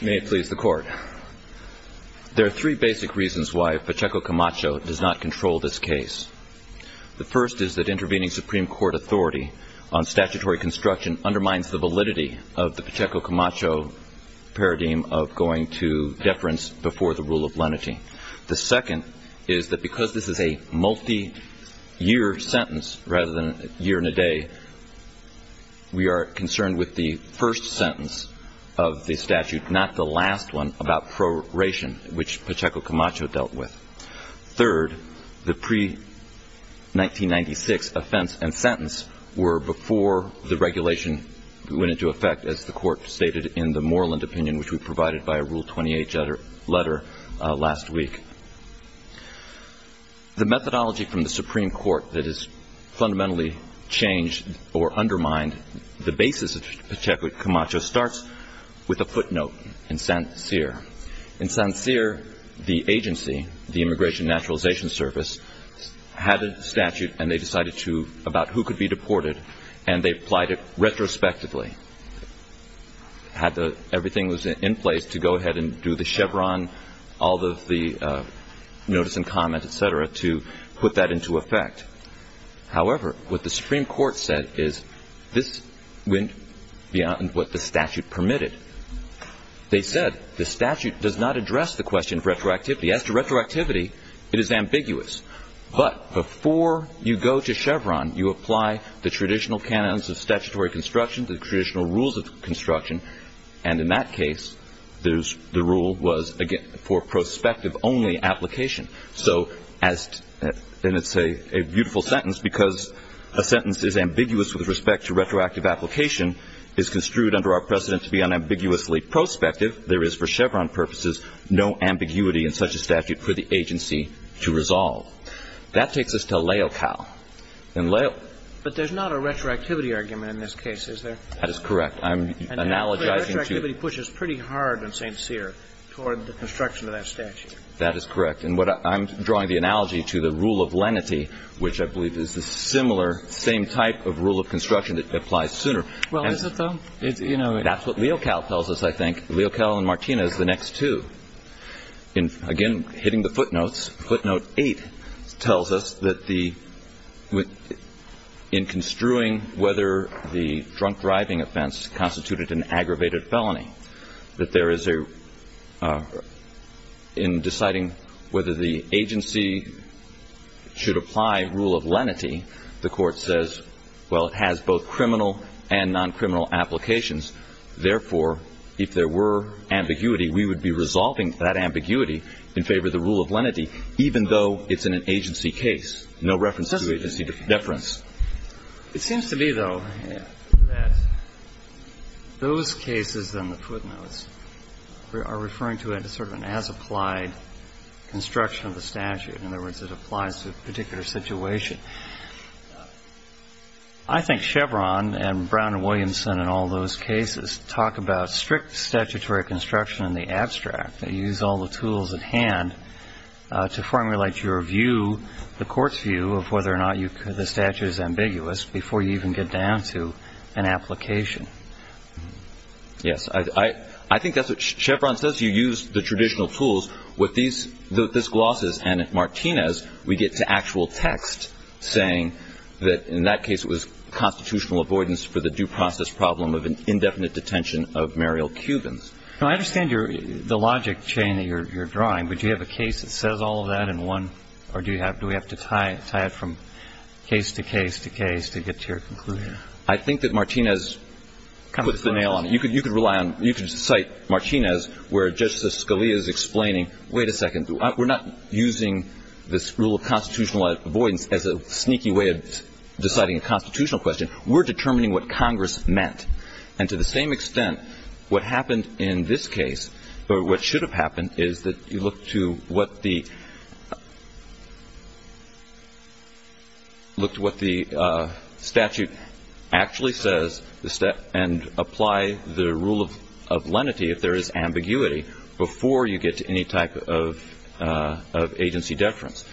There are three basic reasons why Pacheco Camacho does not control this case. The first is that intervening Supreme Court authority on statutory construction undermines the validity of the Pacheco Camacho paradigm of going to deference before the rule of lenity. The second is that because this is a multi-year sentence rather than a year and a day, we are concerned with the first sentence of the statute, not the last one, about proration, which Pacheco Camacho dealt with. Third, the pre-1996 offense and sentence were before the regulation went into effect, as the Court stated in the Moreland opinion, which we provided by a Rule 28 letter last week. The methodology from the Supreme Court that has fundamentally changed or undermined the basis of Pacheco Camacho starts with a footnote in Sancir. In Sancir, the agency, the Immigration and Naturalization Service, had a statute and they decided about who could be deported, and they applied it retrospectively. Everything was in place to go ahead and do the chevron, all of the notice and comment, et cetera, to put that into effect. However, what the Supreme Court said is this went beyond what the statute permitted. They said the statute does not address the question of retroactivity. As to retroactivity, it is ambiguous. But before you go to chevron, you apply the traditional canons of statutory construction, the traditional rules of construction, and in that case, the rule was, again, for prospective only application. So as to – and it's a beautiful sentence because a sentence is ambiguous with respect to retroactive application, is construed under our precedent to be unambiguously prospective. There is, for chevron purposes, no ambiguity in such a statute for the agency to resolve. That takes us to Laocao. And Laocao – But there's not a retroactivity argument in this case, is there? That is correct. I'm analogizing to – Retroactivity pushes pretty hard in Sancir toward the construction of that statute. That is correct. And what – I'm drawing the analogy to the rule of lenity, which I believe is the similar – same type of rule of construction that applies sooner. Well, is it, though? You know – That's what Laocao tells us, I think. Laocao and Martinez, the next two. Again, hitting the footnotes, footnote eight tells us that the – in construing whether the agency should apply rule of lenity, the Court says, well, it has both criminal and noncriminal applications. Therefore, if there were ambiguity, we would be resolving that ambiguity in favor of the rule of lenity, even though it's in an agency case. No reference to agency deference. It seems to me, though, that those cases on the footnotes are referring to sort of an as-applied construction of the statute. In other words, it applies to a particular situation. I think Chevron and Brown and Williamson and all those cases talk about strict statutory construction in the abstract. They use all the tools at hand to formulate your view, the Court's view, of whether or not you – the statute is ambiguous before you even get down to an application. Yes. I think that's what Chevron says. You use the traditional tools. With these glosses and Martinez, we get to actual text saying that in that case it was constitutional avoidance for the due process problem of an indefinite detention of Muriel Cubans. Now, I understand the logic chain that you're drawing, but do you have a case that says all of that in one, or do you have – do we have to tie it from case to case to case to get to your conclusion? I think that Martinez puts the nail on it. You could rely on – you could cite Martinez where Justice Scalia is explaining, wait a second, we're not using this rule of constitutional avoidance as a sneaky way of deciding a constitutional question. We're determining what Congress meant. And to the same extent, what happened in this case, or what should have happened, is that you look to what the – look to what the statute actually says and apply the rule of lenity if there is ambiguity before you get to any type of agency deference.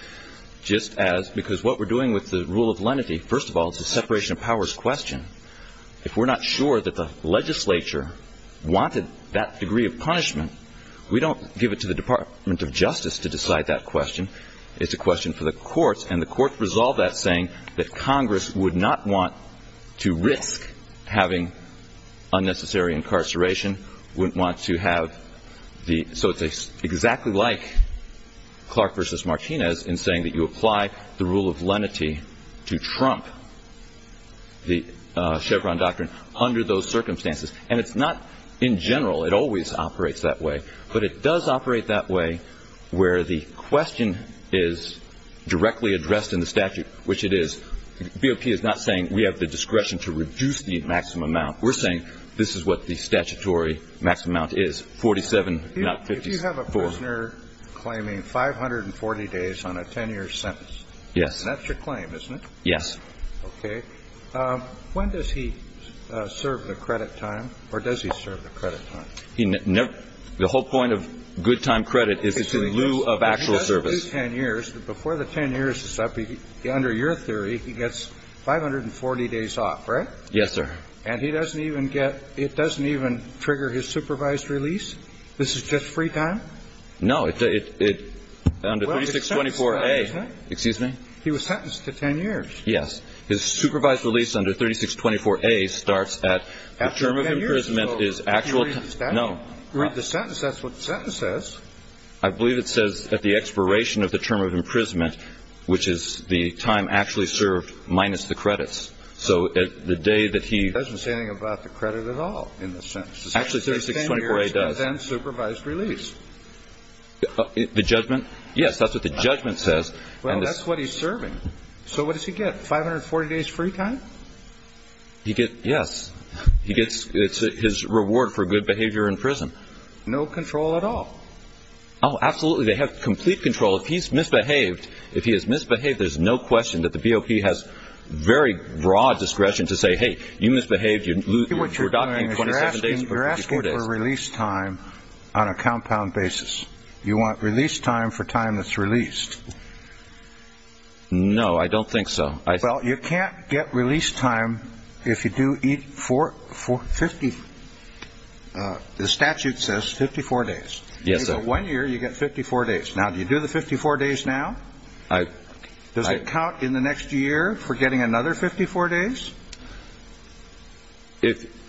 Just as – because what we're doing with the rule of lenity, first of all, it's a separation of powers question. If we're not sure that the legislature wanted that degree of punishment, we don't give it to the Department of Justice to decide that question. It's a question for the Congress would not want to risk having unnecessary incarceration, wouldn't want to have the – so it's exactly like Clark versus Martinez in saying that you apply the rule of lenity to trump the Chevron doctrine under those circumstances. And it's not – in general, it always operates that way. But it does operate that way where the question is directly addressed in the statute, which it is – BOP is not saying we have the discretion to reduce the maximum amount. We're saying this is what the statutory maximum amount is, 47, not 54. If you have a prisoner claiming 540 days on a 10-year sentence. Yes. And that's your claim, isn't it? Yes. Okay. When does he serve the credit time, or does he serve the credit time? The whole point of good time credit is it's in lieu of actual service. So if he's sentenced to 10 years, before the 10 years is up, under your theory, he gets 540 days off, right? Yes, sir. And he doesn't even get – it doesn't even trigger his supervised release? This is just free time? No. It – under 3624A. Excuse me? He was sentenced to 10 years. Yes. His supervised release under 3624A starts at the term of imprisonment is actual time. Can you read the statute? No. The sentence, that's what the sentence says. I believe it says at the expiration of the term of imprisonment, which is the time actually served minus the credits. So the day that he – It doesn't say anything about the credit at all in the sentence. Actually, 3624A does. It says 10 years and then supervised release. The judgment? Yes, that's what the judgment says. Well, that's what he's serving. So what does he get, 540 days free time? He gets – yes. He gets – it's his reward for good behavior in prison. No control at all? Oh, absolutely. They have complete control. If he's misbehaved, if he has misbehaved, there's no question that the BOP has very broad discretion to say, hey, you misbehaved, you – See what you're doing is you're asking for release time on a compound basis. You want release time for time that's released. No, I don't think so. Well, you can't get release time if you do 54 – 50 – the statute says 54 days. Yes, sir. So one year you get 54 days. Now, do you do the 54 days now? Does it count in the next year for getting another 54 days? If –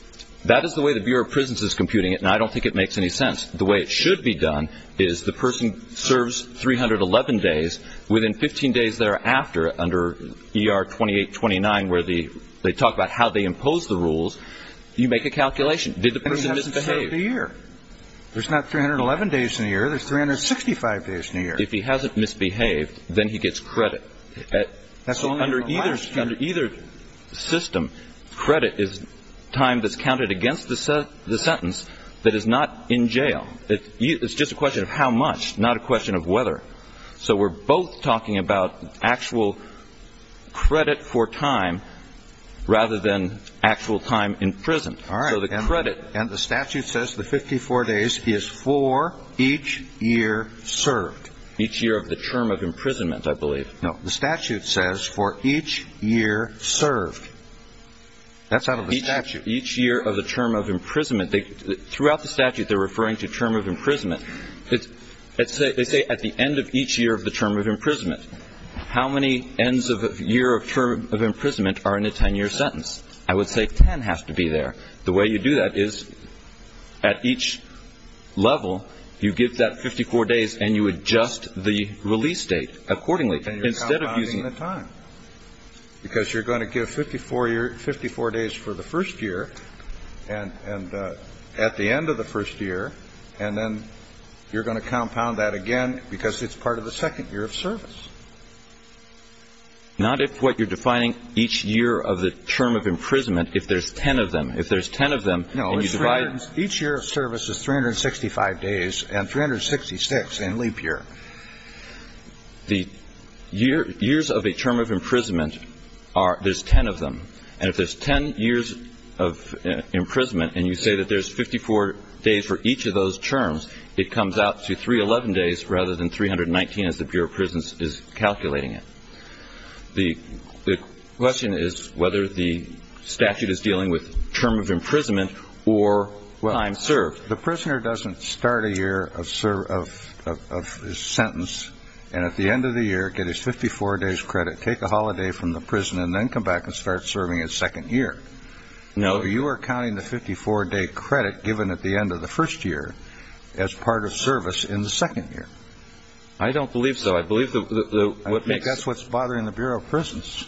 that is the way the Bureau of Prisons is computing it, and I don't think it makes any sense. The way it should be done is the person serves 311 days. Within 15 days thereafter, under ER 2829, where they talk about how they impose the rules, you make a calculation. Did the person misbehave? There's not 311 days in a year. There's 365 days in a year. If he hasn't misbehaved, then he gets credit. So under either system, credit is time that's counted against the sentence that is not in jail. It's just a question of how much, not a question of whether. So we're both talking about actual credit for time rather than actual time imprisoned. All right. And the statute says the 54 days is for each year served. Each year of the term of imprisonment, I believe. No, the statute says for each year served. That's out of the statute. Each year of the term of imprisonment. Throughout the statute, they're referring to term of imprisonment. They say at the end of each year of the term of imprisonment. How many ends of a year of imprisonment are in a 10-year sentence? I would say 10 has to be there. The way you do that is at each level, you give that 54 days and you adjust the release date accordingly instead of using the time. Because you're going to give 54 days for the first year and at the end of the first year, and then you're going to compound that again because it's part of the second year of service. Not if what you're defining each year of the term of imprisonment, if there's 10 of them. If there's 10 of them and you divide. No, each year of service is 365 days and 366 in leap year. The years of a term of imprisonment, there's 10 of them. And if there's 10 years of imprisonment and you say that there's 54 days for each of those terms, it comes out to 311 days rather than 319 as the Bureau of Prisons is calculating it. The question is whether the statute is dealing with term of imprisonment or time served. Well, the prisoner doesn't start a year of sentence and at the end of the year get his 54 days credit, take a holiday from the prison and then come back and start serving his second year. No. So you are counting the 54-day credit given at the end of the first year as part of service in the second year. I don't believe so. I believe that's what's bothering the Bureau of Prisons.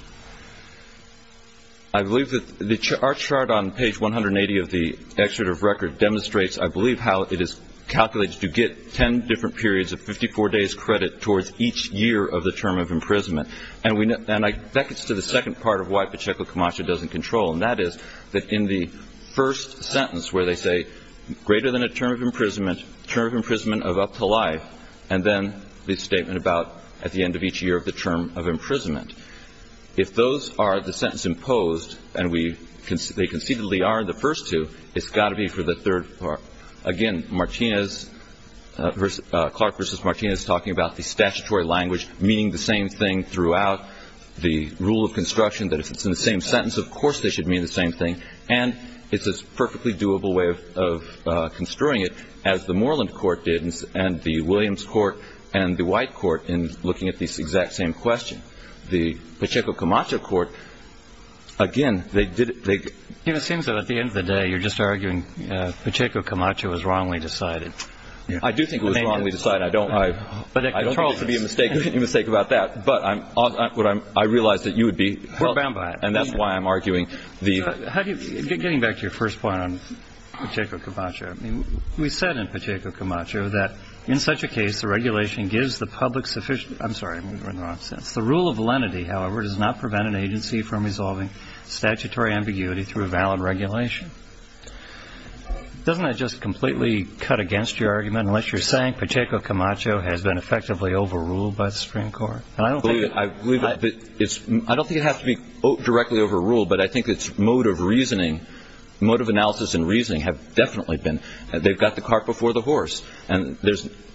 I believe that our chart on page 180 of the excerpt of record demonstrates, I believe, how it is calculated to get 10 different periods of 54 days credit towards each year of the term of imprisonment. And that gets to the second part of why Pacheco-Camacho doesn't control, and that is that in the first sentence where they say, greater than a term of imprisonment, term of imprisonment of up to life, and then the statement about at the end of each year of the term of imprisonment. If those are the sentence imposed, and they concededly are in the first two, it's got to be for the third part. Again, Martinez, Clark v. Martinez, talking about the statutory language meaning the same thing throughout the rule of construction, that if it's in the same sentence, of course they should mean the same thing, and it's a perfectly doable way of construing it as the Moreland Court did and the Williams Court and the White Court in looking at this exact same question. The Pacheco-Camacho Court, again, they did it. It seems that at the end of the day you're just arguing Pacheco-Camacho was wrongly decided. I do think it was wrongly decided. I don't mean to be a mistake about that, but I realize that you would be helped, and that's why I'm arguing. Getting back to your first point on Pacheco-Camacho, we said in Pacheco-Camacho that in such a case the regulation gives the public sufficient I'm sorry, I'm in the wrong sense. The rule of lenity, however, does not prevent an agency from resolving statutory ambiguity through a valid regulation. Doesn't that just completely cut against your argument unless you're saying Pacheco-Camacho has been effectively overruled by the Supreme Court? And I don't think it has to be directly overruled, but I think its mode of reasoning, mode of analysis and reasoning, have definitely been. They've got the cart before the horse. And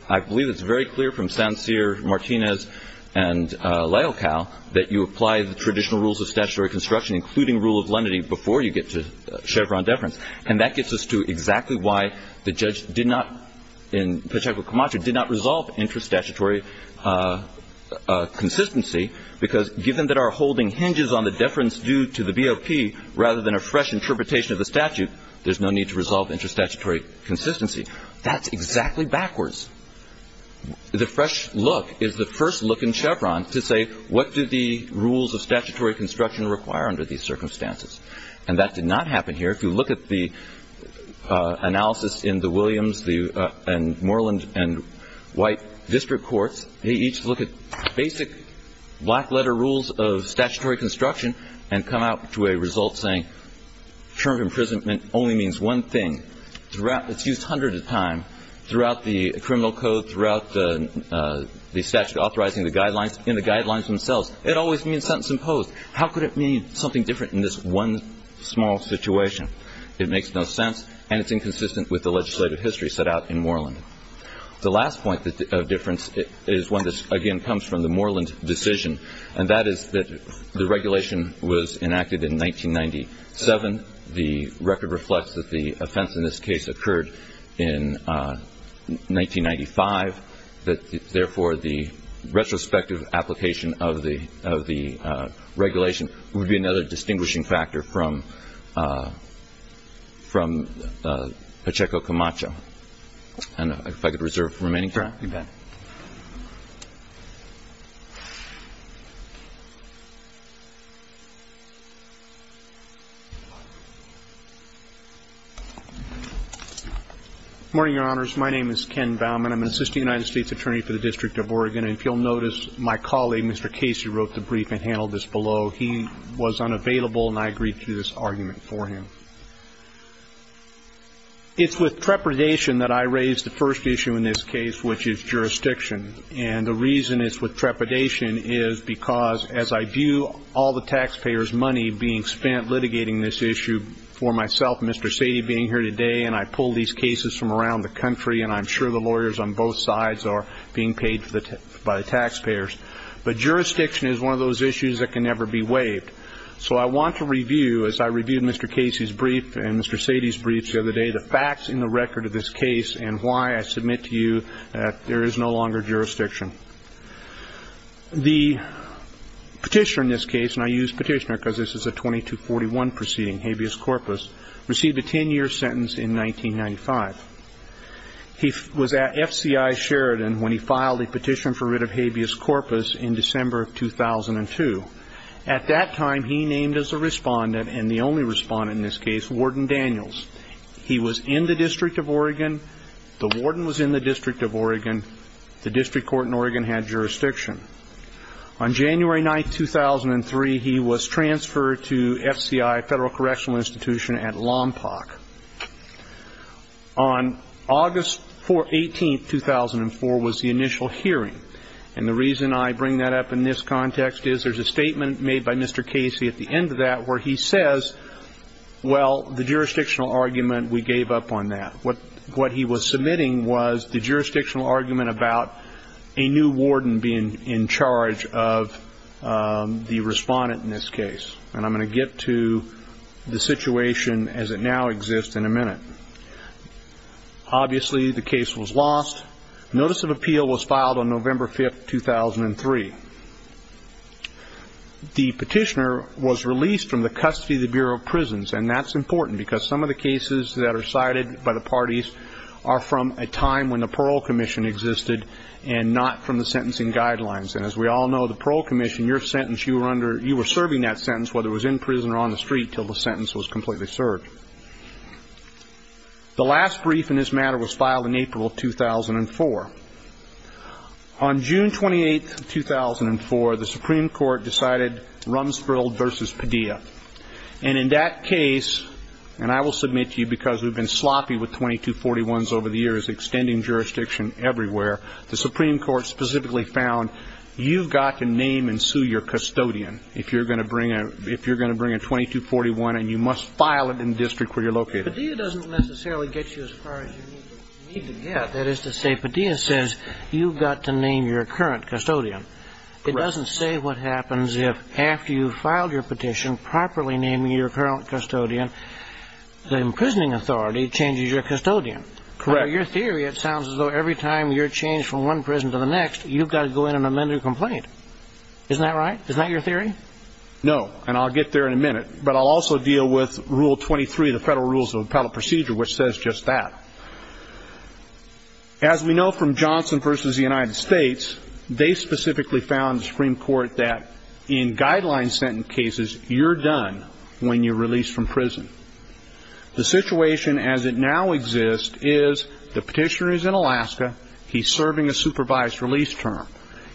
I believe it's very clear from Sancier, Martinez, and Leocal that you apply the traditional rules of statutory construction, including rule of lenity, before you get to Chevron deference. And that gets us to exactly why the judge did not in Pacheco-Camacho did not resolve intrastatutory consistency, because given that our holding hinges on the deference due to the BOP rather than a fresh interpretation of the statute, there's no need to resolve intrastatutory consistency. That's exactly backwards. The fresh look is the first look in Chevron to say what do the rules of statutory construction require under these circumstances. And that did not happen here. If you look at the analysis in the Williams and Moreland and White district courts, they each look at basic black-letter rules of statutory construction and come out to a result saying term of imprisonment only means one thing. It's used hundreds of times throughout the criminal code, throughout the statute authorizing the guidelines, in the guidelines themselves. It always means sentence imposed. How could it mean something different in this one small situation? It makes no sense, and it's inconsistent with the legislative history set out in Moreland. The last point of difference is one that, again, comes from the Moreland decision, and that is that the regulation was enacted in 1997. The record reflects that the offense in this case occurred in 1995, that, therefore, the retrospective application of the regulation would be another distinguishing factor from Pacheco-Camacho. And if I could reserve the remaining time. Correct. You bet. Good morning, Your Honors. My name is Ken Baumann. I'm an assistant United States attorney for the District of Oregon. And if you'll notice, my colleague, Mr. Casey, wrote the brief and handled this below. He was unavailable, and I agreed to do this argument for him. It's with trepidation that I raise the first issue in this case, which is jurisdiction. And the reason it's with trepidation is because, as I view all the taxpayers' money being spent litigating this issue for myself, Mr. Sady being here today, and I pull these cases from around the country, and I'm sure the lawyers on both sides are being paid by the taxpayers, but jurisdiction is one of those issues that can never be waived. So I want to review, as I reviewed Mr. Casey's brief and Mr. Sady's brief the other day, the facts in the record of this case and why I submit to you that there is no longer jurisdiction. The petitioner in this case, and I use petitioner because this is a 2241 proceeding, habeas corpus, received a 10-year sentence in 1995. He was at FCI Sheridan when he filed a petition for writ of habeas corpus in December of 2002. At that time, he named as a respondent, and the only respondent in this case, Warden Daniels. He was in the District of Oregon. The warden was in the District of Oregon. The district court in Oregon had jurisdiction. On January 9, 2003, he was transferred to FCI, Federal Correctional Institution, at Lompoc. On August 18, 2004, was the initial hearing, and the reason I bring that up in this context is there's a statement made by Mr. Casey at the end of that where he says, well, the jurisdictional argument, we gave up on that. What he was submitting was the jurisdictional argument about a new warden being in charge of the respondent in this case, and I'm going to get to the situation as it now exists in a minute. Obviously, the case was lost. Notice of appeal was filed on November 5, 2003. The petitioner was released from the custody of the Bureau of Prisons, and that's important because some of the cases that are cited by the parties are from a time when the Parole Commission existed and not from the sentencing guidelines, and as we all know, the Parole Commission, your sentence, you were serving that sentence whether it was in prison or on the street until the sentence was completely served. The last brief in this matter was filed in April of 2004. On June 28, 2004, the Supreme Court decided Rumsfeld v. Padilla, and in that case, and I will submit to you because we've been sloppy with 2241s over the years, extending jurisdiction everywhere, the Supreme Court specifically found you've got to name and sue your custodian if you're going to bring a 2241 and you must file it in the district where you're located. Padilla doesn't necessarily get you as far as you need to get. That is to say, Padilla says you've got to name your current custodian. Correct. But Padilla doesn't say what happens if after you've filed your petition properly naming your current custodian, the imprisoning authority changes your custodian. Correct. By your theory, it sounds as though every time you're changed from one prison to the next, you've got to go in and amend your complaint. Isn't that right? Isn't that your theory? No, and I'll get there in a minute, but I'll also deal with Rule 23 of the Federal Rules of Appellate Procedure, which says just that. As we know from Johnson v. The United States, they specifically found in the Supreme Court that in guideline sentence cases, you're done when you're released from prison. The situation as it now exists is the petitioner is in Alaska. He's serving a supervised release term.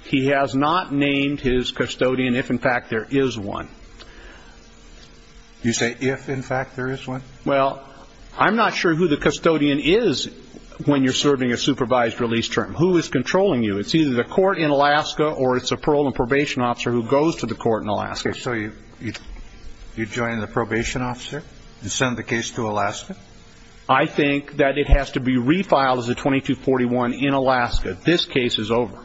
He has not named his custodian if, in fact, there is one. You say if, in fact, there is one? Well, I'm not sure who the custodian is when you're serving a supervised release term. Who is controlling you? It's either the court in Alaska or it's a parole and probation officer who goes to the court in Alaska. So you join the probation officer and send the case to Alaska? I think that it has to be refiled as a 2241 in Alaska. This case is over.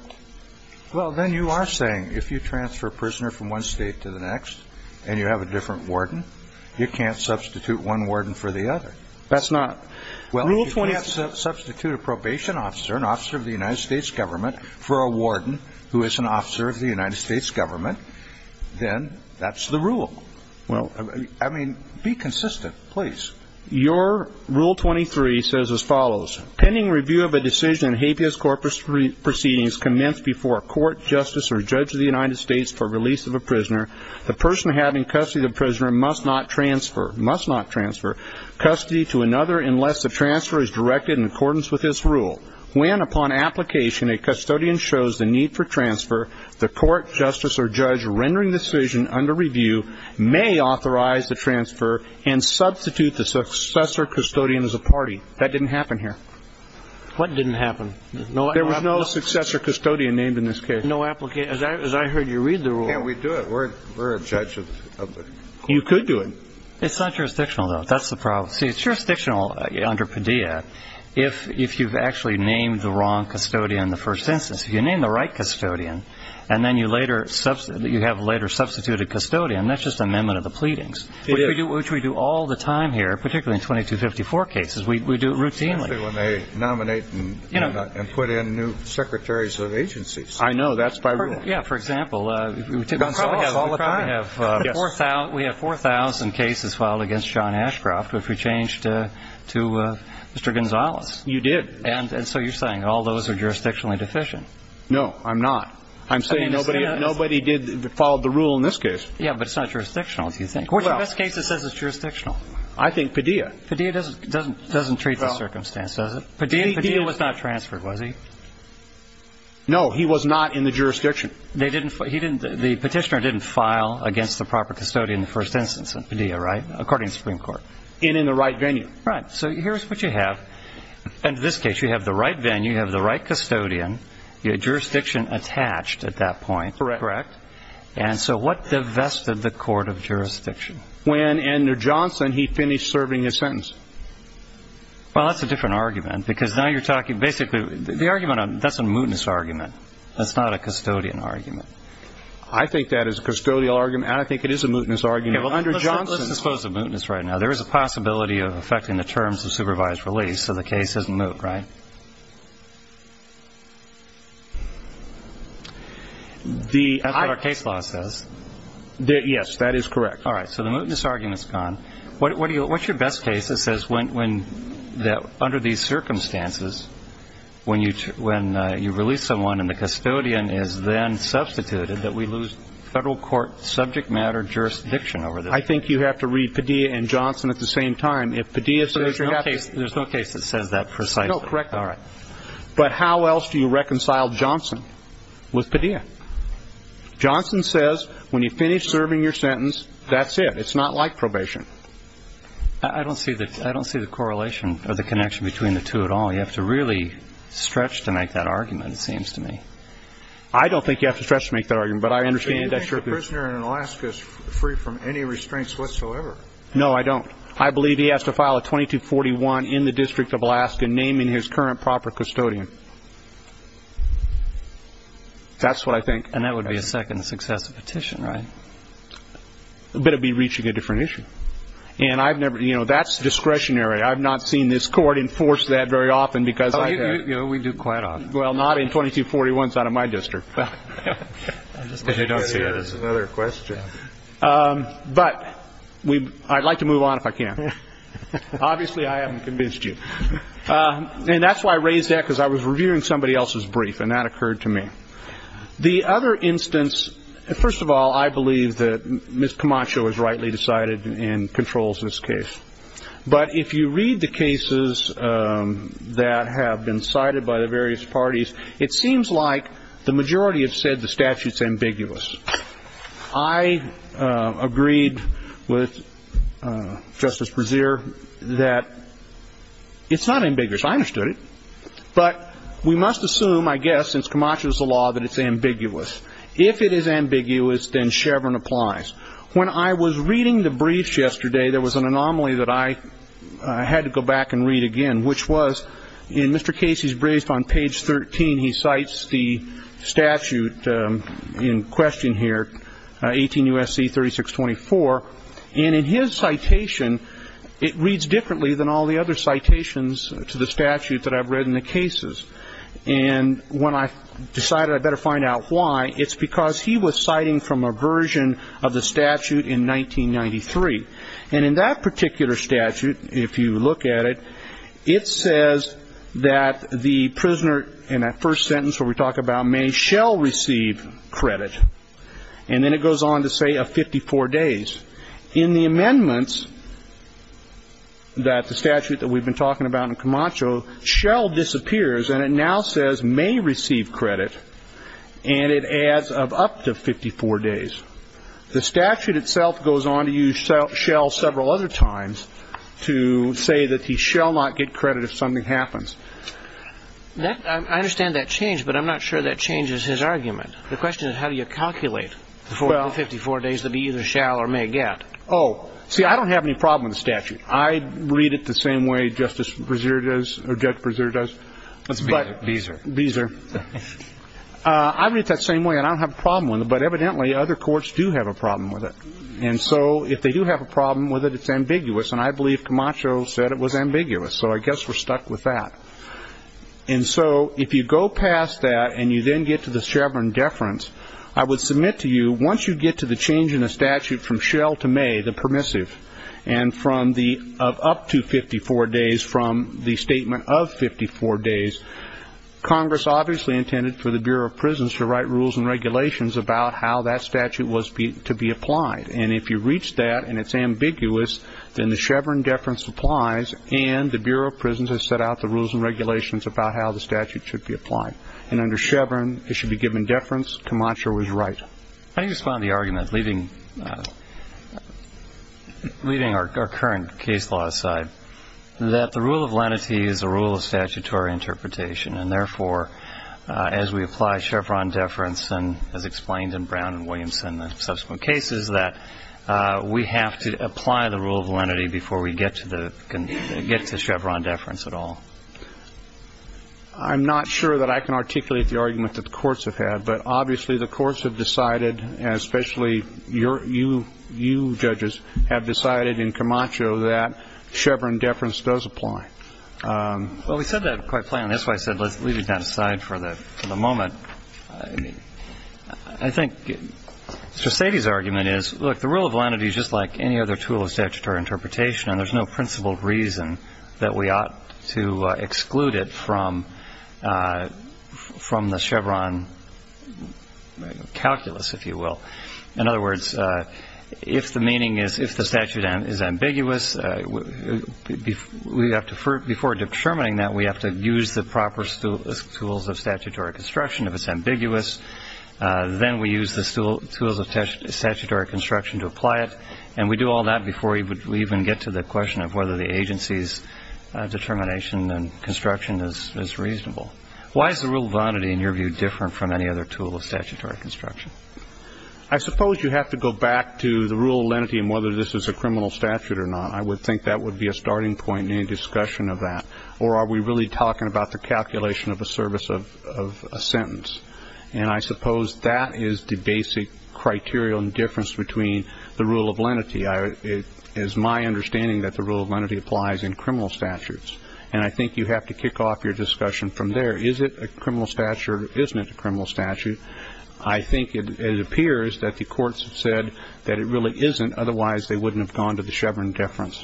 Well, then you are saying if you transfer a prisoner from one state to the next and you have a different warden, you can't substitute one warden for the other? That's not rule 23. Well, if you can't substitute a probation officer, an officer of the United States government, for a warden who is an officer of the United States government, then that's the rule. I mean, be consistent, please. Your rule 23 says as follows. A person having custody of the prisoner must not transfer custody to another unless the transfer is directed in accordance with this rule. When, upon application, a custodian shows the need for transfer, the court, justice, or judge rendering the decision under review may authorize the transfer and substitute the successor custodian as a party. That didn't happen here. What didn't happen? There was no successor custodian named in this case. As I heard you read the rule. Can't we do it? We're a judge of the court. You could do it. It's not jurisdictional, though. That's the problem. See, it's jurisdictional under Padilla if you've actually named the wrong custodian in the first instance. If you name the right custodian and then you have a later substituted custodian, that's just amendment of the pleadings, which we do all the time here, particularly in 2254 cases. We do it routinely. Especially when they nominate and put in new secretaries of agencies. I know. That's by rule. Yeah, for example, we have 4,000 cases filed against John Ashcroft if we change to Mr. Gonzalez. You did. And so you're saying all those are jurisdictionally deficient. No, I'm not. I'm saying nobody followed the rule in this case. Yeah, but it's not jurisdictional, if you think. Which of these cases says it's jurisdictional? I think Padilla. Padilla doesn't treat the circumstance, does it? Padilla was not transferred, was he? No, he was not in the jurisdiction. The petitioner didn't file against the proper custodian in the first instance in Padilla, right? According to the Supreme Court. And in the right venue. Right. So here's what you have. In this case, you have the right venue, you have the right custodian, jurisdiction attached at that point. Correct. And so what divested the court of jurisdiction? When Andrew Johnson, he finished serving his sentence. Well, that's a different argument. Because now you're talking basically, the argument, that's a mootness argument. That's not a custodian argument. I think that is a custodial argument, and I think it is a mootness argument. Andrew Johnson. Let's suppose the mootness right now. There is a possibility of affecting the terms of supervised release, so the case doesn't moot, right? That's what our case law says. Yes, that is correct. All right. So the mootness argument is gone. What's your best case that says under these circumstances, when you release someone and the custodian is then substituted, that we lose federal court subject matter jurisdiction over this? I think you have to read Padilla and Johnson at the same time. If Padilla says you have to. There's no case that says that precisely. No, correct. All right. But how else do you reconcile Johnson with Padilla? Johnson says when you finish serving your sentence, that's it. It's not like probation. I don't see the correlation or the connection between the two at all. You have to really stretch to make that argument, it seems to me. I don't think you have to stretch to make that argument, but I understand that. Do you think a prisoner in Alaska is free from any restraints whatsoever? No, I don't. I believe he has to file a 2241 in the District of Alaska naming his current proper custodian. That's what I think. And that would be a second successive petition, right? But it would be reaching a different issue. And that's discretionary. I've not seen this court enforce that very often because I have. We do quite often. Well, not in 2241s out of my district. There's another question. But I'd like to move on if I can. Obviously, I haven't convinced you. And that's why I raised that because I was reviewing somebody else's brief, and that occurred to me. The other instance, first of all, I believe that Ms. Camacho has rightly decided and controls this case. But if you read the cases that have been cited by the various parties, it seems like the majority have said the statute's ambiguous. I agreed with Justice Brezier that it's not ambiguous. I understood it. But we must assume, I guess, since Camacho's the law, that it's ambiguous. If it is ambiguous, then Chevron applies. When I was reading the brief yesterday, there was an anomaly that I had to go back and read again, which was in Mr. Casey's brief on page 13, he cites the statute in question here, 18 U.S.C. 3624. And in his citation, it reads differently than all the other citations to the statute that I've read in the cases. And when I decided I'd better find out why, it's because he was citing from a version of the statute in 1993. And in that particular statute, if you look at it, it says that the prisoner in that first sentence where we talk about may shall receive credit, and then it goes on to say of 54 days. In the amendments that the statute that we've been talking about in Camacho, shall disappears, and it now says may receive credit, and it adds of up to 54 days. The statute itself goes on to use shall several other times to say that he shall not get credit if something happens. I understand that change, but I'm not sure that changes his argument. The question is how do you calculate the 54 days that he either shall or may get. Oh, see, I don't have any problem with the statute. I read it the same way Justice Brezier does, or Judge Brezier does. That's Beezer. Beezer. I read it the same way, and I don't have a problem with it, but evidently other courts do have a problem with it. And so if they do have a problem with it, it's ambiguous, and I believe Camacho said it was ambiguous. So I guess we're stuck with that. And so if you go past that and you then get to the Chevron deference, I would submit to you, once you get to the change in the statute from shall to may, the permissive, and from the up to 54 days from the statement of 54 days, Congress obviously intended for the Bureau of Prisons to write rules and regulations about how that statute was to be applied. And if you reach that and it's ambiguous, then the Chevron deference applies, and the Bureau of Prisons has set out the rules and regulations about how the statute should be applied. And under Chevron, it should be given deference. Camacho was right. How do you respond to the argument, leaving our current case law aside, that the rule of lenity is a rule of statutory interpretation, and therefore as we apply Chevron deference and, as explained in Brown and Williamson and subsequent cases, that we have to apply the rule of lenity before we get to Chevron deference at all? I'm not sure that I can articulate the argument that the courts have had, but obviously the courts have decided, and especially you judges, have decided in Camacho that Chevron deference does apply. Well, we said that quite plainly. That's why I said let's leave it down to the side for the moment. I think Mr. Sady's argument is, look, the rule of lenity is just like any other tool of statutory interpretation, and there's no principled reason that we ought to exclude it from the Chevron calculus, if you will. In other words, if the meaning is if the statute is ambiguous, before determining that, we have to use the proper tools of statutory construction. If it's ambiguous, then we use the tools of statutory construction to apply it, and we do all that before we even get to the question of whether the agency's determination and construction is reasonable. Why is the rule of lenity, in your view, different from any other tool of statutory construction? I suppose you have to go back to the rule of lenity and whether this is a criminal statute or not. I would think that would be a starting point in any discussion of that, or are we really talking about the calculation of a service of a sentence? And I suppose that is the basic criteria and difference between the rule of lenity. It is my understanding that the rule of lenity applies in criminal statutes, and I think you have to kick off your discussion from there. Is it a criminal statute or isn't it a criminal statute? I think it appears that the courts have said that it really isn't, otherwise they wouldn't have gone to the Chevron difference,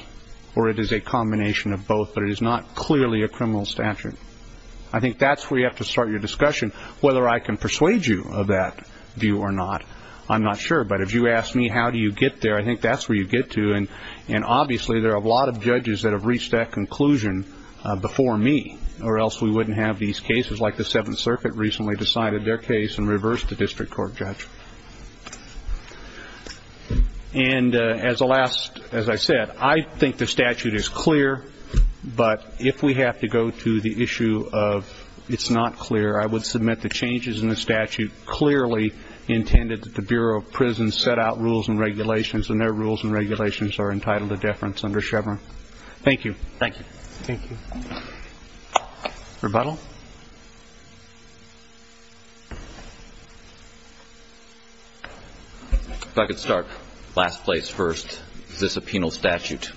or it is a combination of both, but it is not clearly a criminal statute. I think that is where you have to start your discussion. Whether I can persuade you of that view or not, I am not sure. But if you ask me how do you get there, I think that is where you get to. And obviously there are a lot of judges that have reached that conclusion before me, or else we wouldn't have these cases like the Seventh Circuit recently decided their case and reversed the district court judge. And as I said, I think the statute is clear, but if we have to go to the issue of it's not clear, I would submit the changes in the statute clearly intended that the Bureau of Prisons set out rules and regulations, and their rules and regulations are entitled to deference under Chevron. Thank you. Thank you. Thank you. Rebuttal? If I could start. Last place first. Is this a penal statute?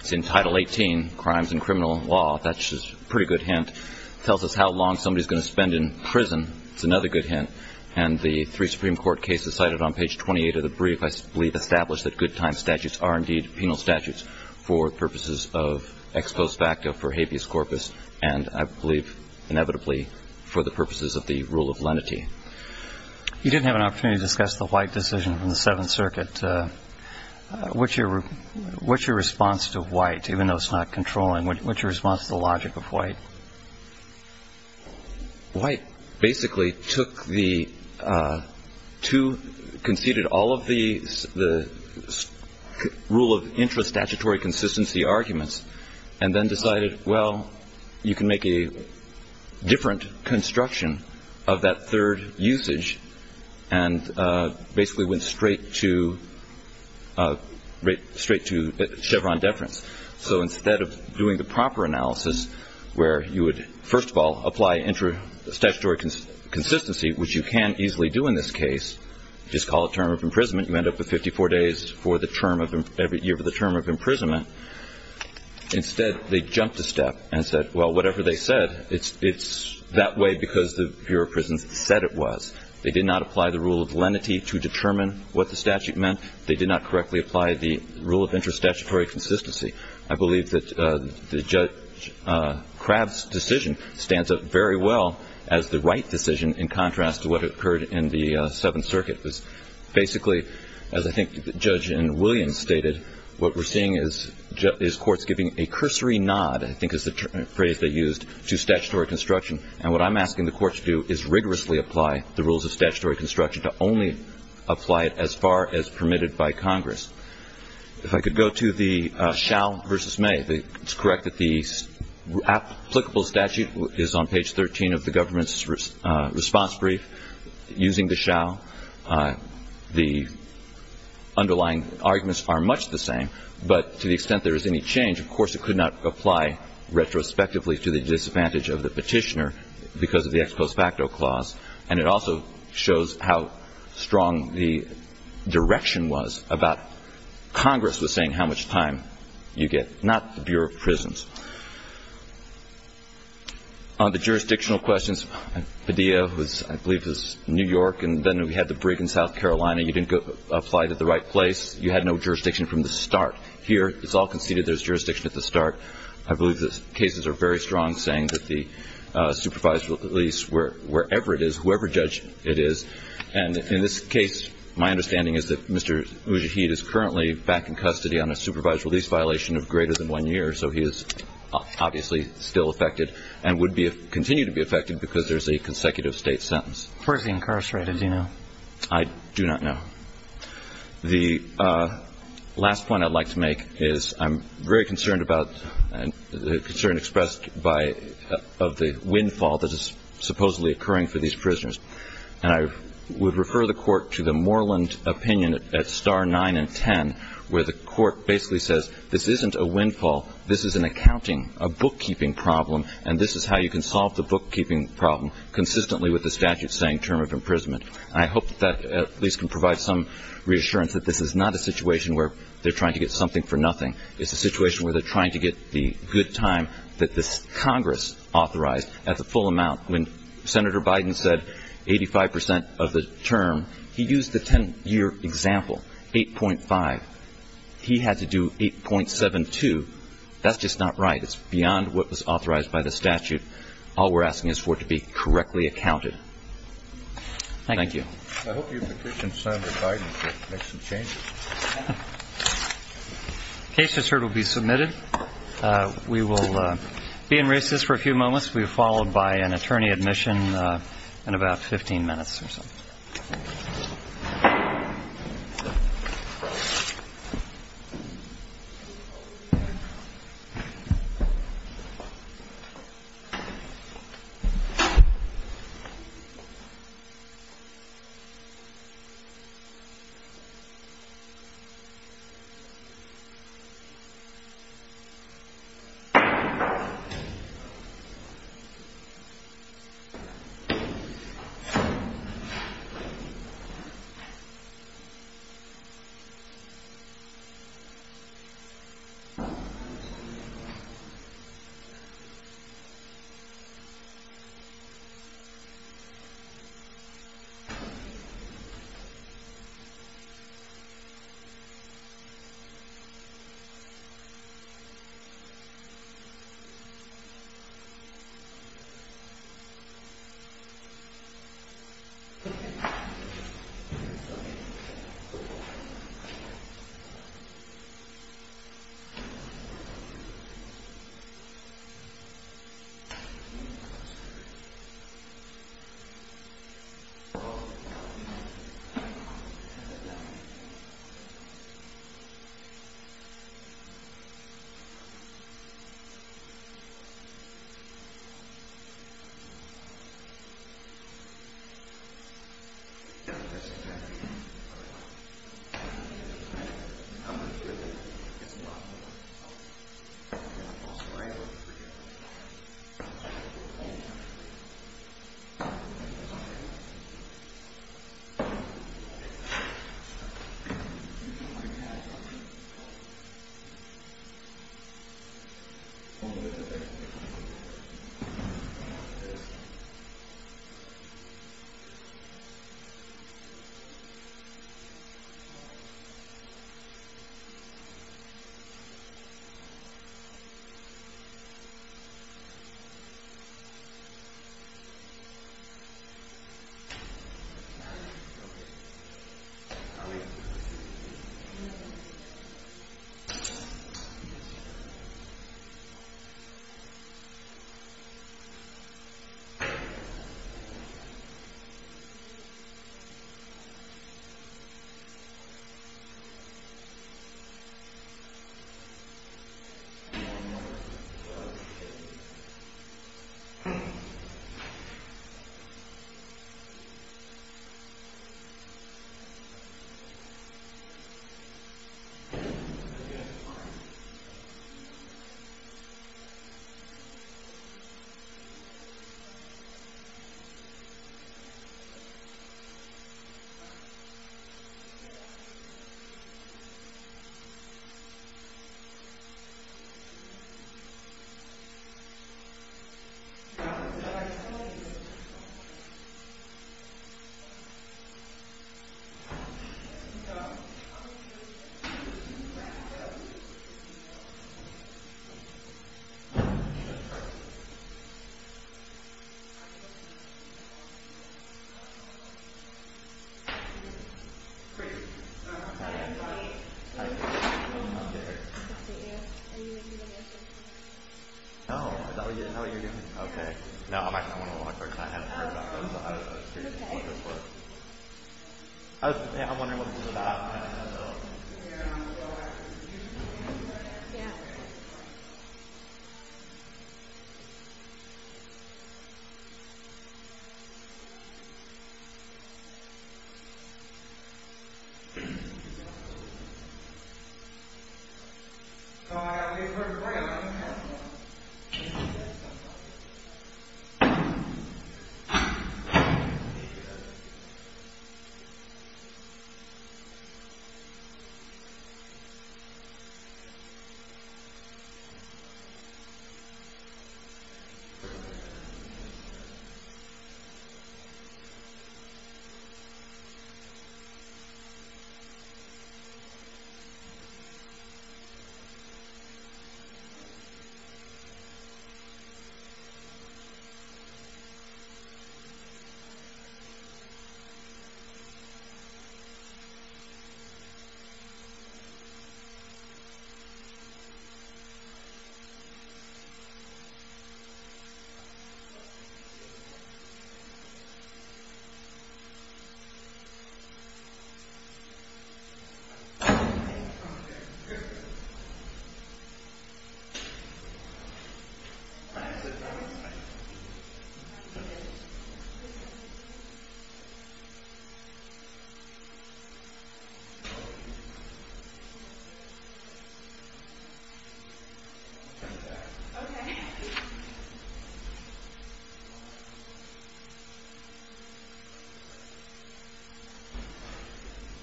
It's in Title 18, Crimes and Criminal Law. That's a pretty good hint. It tells us how long somebody is going to spend in prison. It's another good hint. And the three Supreme Court cases cited on page 28 of the brief I believe establish that good time statutes are indeed penal statutes for purposes of ex post facto for habeas corpus, and I believe inevitably for the purposes of the rule of lenity. You didn't have an opportunity to discuss the White decision from the Seventh Circuit. What's your response to White, even though it's not controlling? What's your response to the logic of White? White basically took the two, conceded all of the rule of intrastatutory consistency arguments, and then decided, well, you can make a different construction of that third usage and basically went straight to Chevron deference. So instead of doing the proper analysis where you would, first of all, apply intrastatutory consistency, which you can easily do in this case, just call it term of imprisonment. You end up with 54 days for the term of every year for the term of imprisonment. Instead, they jumped a step and said, well, whatever they said, it's that way because the Bureau of Prisons said it was. They did not apply the rule of lenity to determine what the statute meant. They did not correctly apply the rule of intrastatutory consistency. I believe that Judge Crabb's decision stands up very well as the right decision in contrast to what occurred in the Seventh Circuit. Basically, as I think Judge Williams stated, what we're seeing is courts giving a cursory nod, I think is the phrase they used, to statutory construction. And what I'm asking the courts to do is rigorously apply the rules of statutory construction to only apply it as far as permitted by Congress. If I could go to the Schall v. May, it's correct that the applicable statute is on page 13 of the government's response brief. Using the Schall, the underlying arguments are much the same. But to the extent there is any change, of course it could not apply retrospectively to the disadvantage of the petitioner because of the ex post facto clause. And it also shows how strong the direction was about Congress was saying how much time you get, not the Bureau of Prisons. On the jurisdictional questions, Padilla, who I believe is New York, and then we had the brig in South Carolina, you didn't apply it at the right place. You had no jurisdiction from the start. Here it's all conceded there's jurisdiction at the start. I believe the cases are very strong saying that the supervised release, wherever it is, whoever judged it is, and in this case, violation of greater than one year, so he is obviously still affected and would continue to be affected because there's a consecutive state sentence. Where is he incarcerated? Do you know? I do not know. The last point I'd like to make is I'm very concerned about the concern expressed of the windfall that is supposedly occurring for these prisoners. And I would refer the Court to the Moreland opinion at star 9 and 10 where the Court basically says this isn't a windfall, this is an accounting, a bookkeeping problem, and this is how you can solve the bookkeeping problem consistently with the statute saying term of imprisonment. And I hope that at least can provide some reassurance that this is not a situation where they're trying to get something for nothing. It's a situation where they're trying to get the good time that Congress authorized at the full amount. When Senator Biden said 85 percent of the term, he used the 10-year example, 8.5. He had to do 8.72. That's just not right. It's beyond what was authorized by the statute. All we're asking is for it to be correctly accounted. Thank you. I hope you petition Senator Biden to make some changes. The case report will be submitted. We will be in recess for a few moments. We will be followed by an attorney admission in about 15 minutes or so. Thank you. Thank you.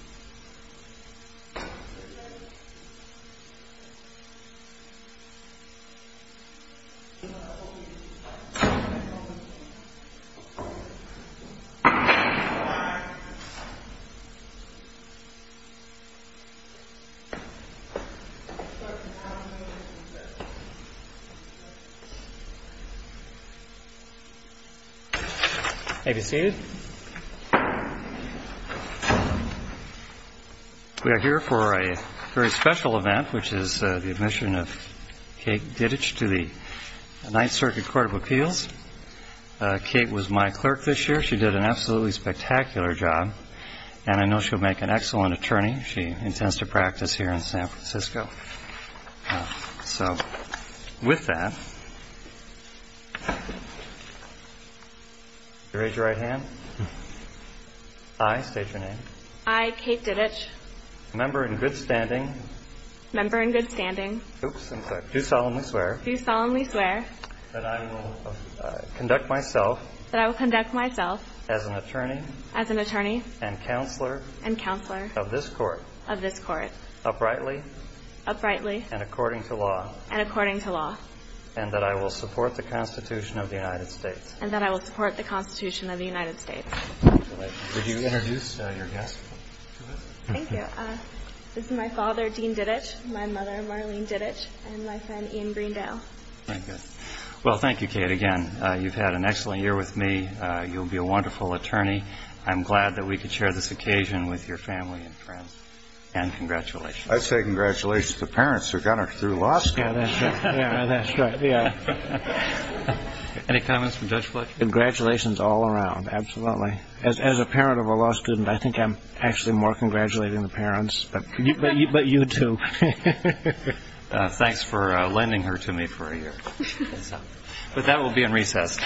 Thank you. Thank you. Thank you. Thank you. Thank you. Thank you. Thank you. Thank you. Thank you. Thank you. Okay. Okay. Okay. Okay. We are here for a very special event, which is the admission of Kate Dittich to the Ninth Circuit Court of Appeals. Kate was my clerk this year. She did an absolutely spectacular job, and I know she'll make an excellent attorney. She intends to practice here in San Francisco. So with that, raise your right hand. I, state your name. I, Kate Dittich. Member in good standing. Member in good standing. Oops, I'm sorry. Do solemnly swear. Do solemnly swear. That I will conduct myself. That I will conduct myself. As an attorney. As an attorney. And counselor. And counselor. Of this court. Of this court. Uprightly. Uprightly. And according to law. And according to law. And that I will support the Constitution of the United States. And that I will support the Constitution of the United States. Congratulations. Would you introduce your guest to us? Thank you. This is my father, Dean Dittich, my mother, Marlene Dittich, and my friend, Ian Greendale. Thank you. Well, thank you, Kate, again. You've had an excellent year with me. You'll be a wonderful attorney. I'm glad that we could share this occasion with your family and friends. And congratulations. I say congratulations to the parents who got her through law school. Yeah, that's right. Yeah. Any comments from Judge Fletcher? Congratulations all around. Absolutely. As a parent of a law student, I think I'm actually more congratulating the parents. But you too. Thanks for lending her to me for a year. But that will be in recess. Thank you.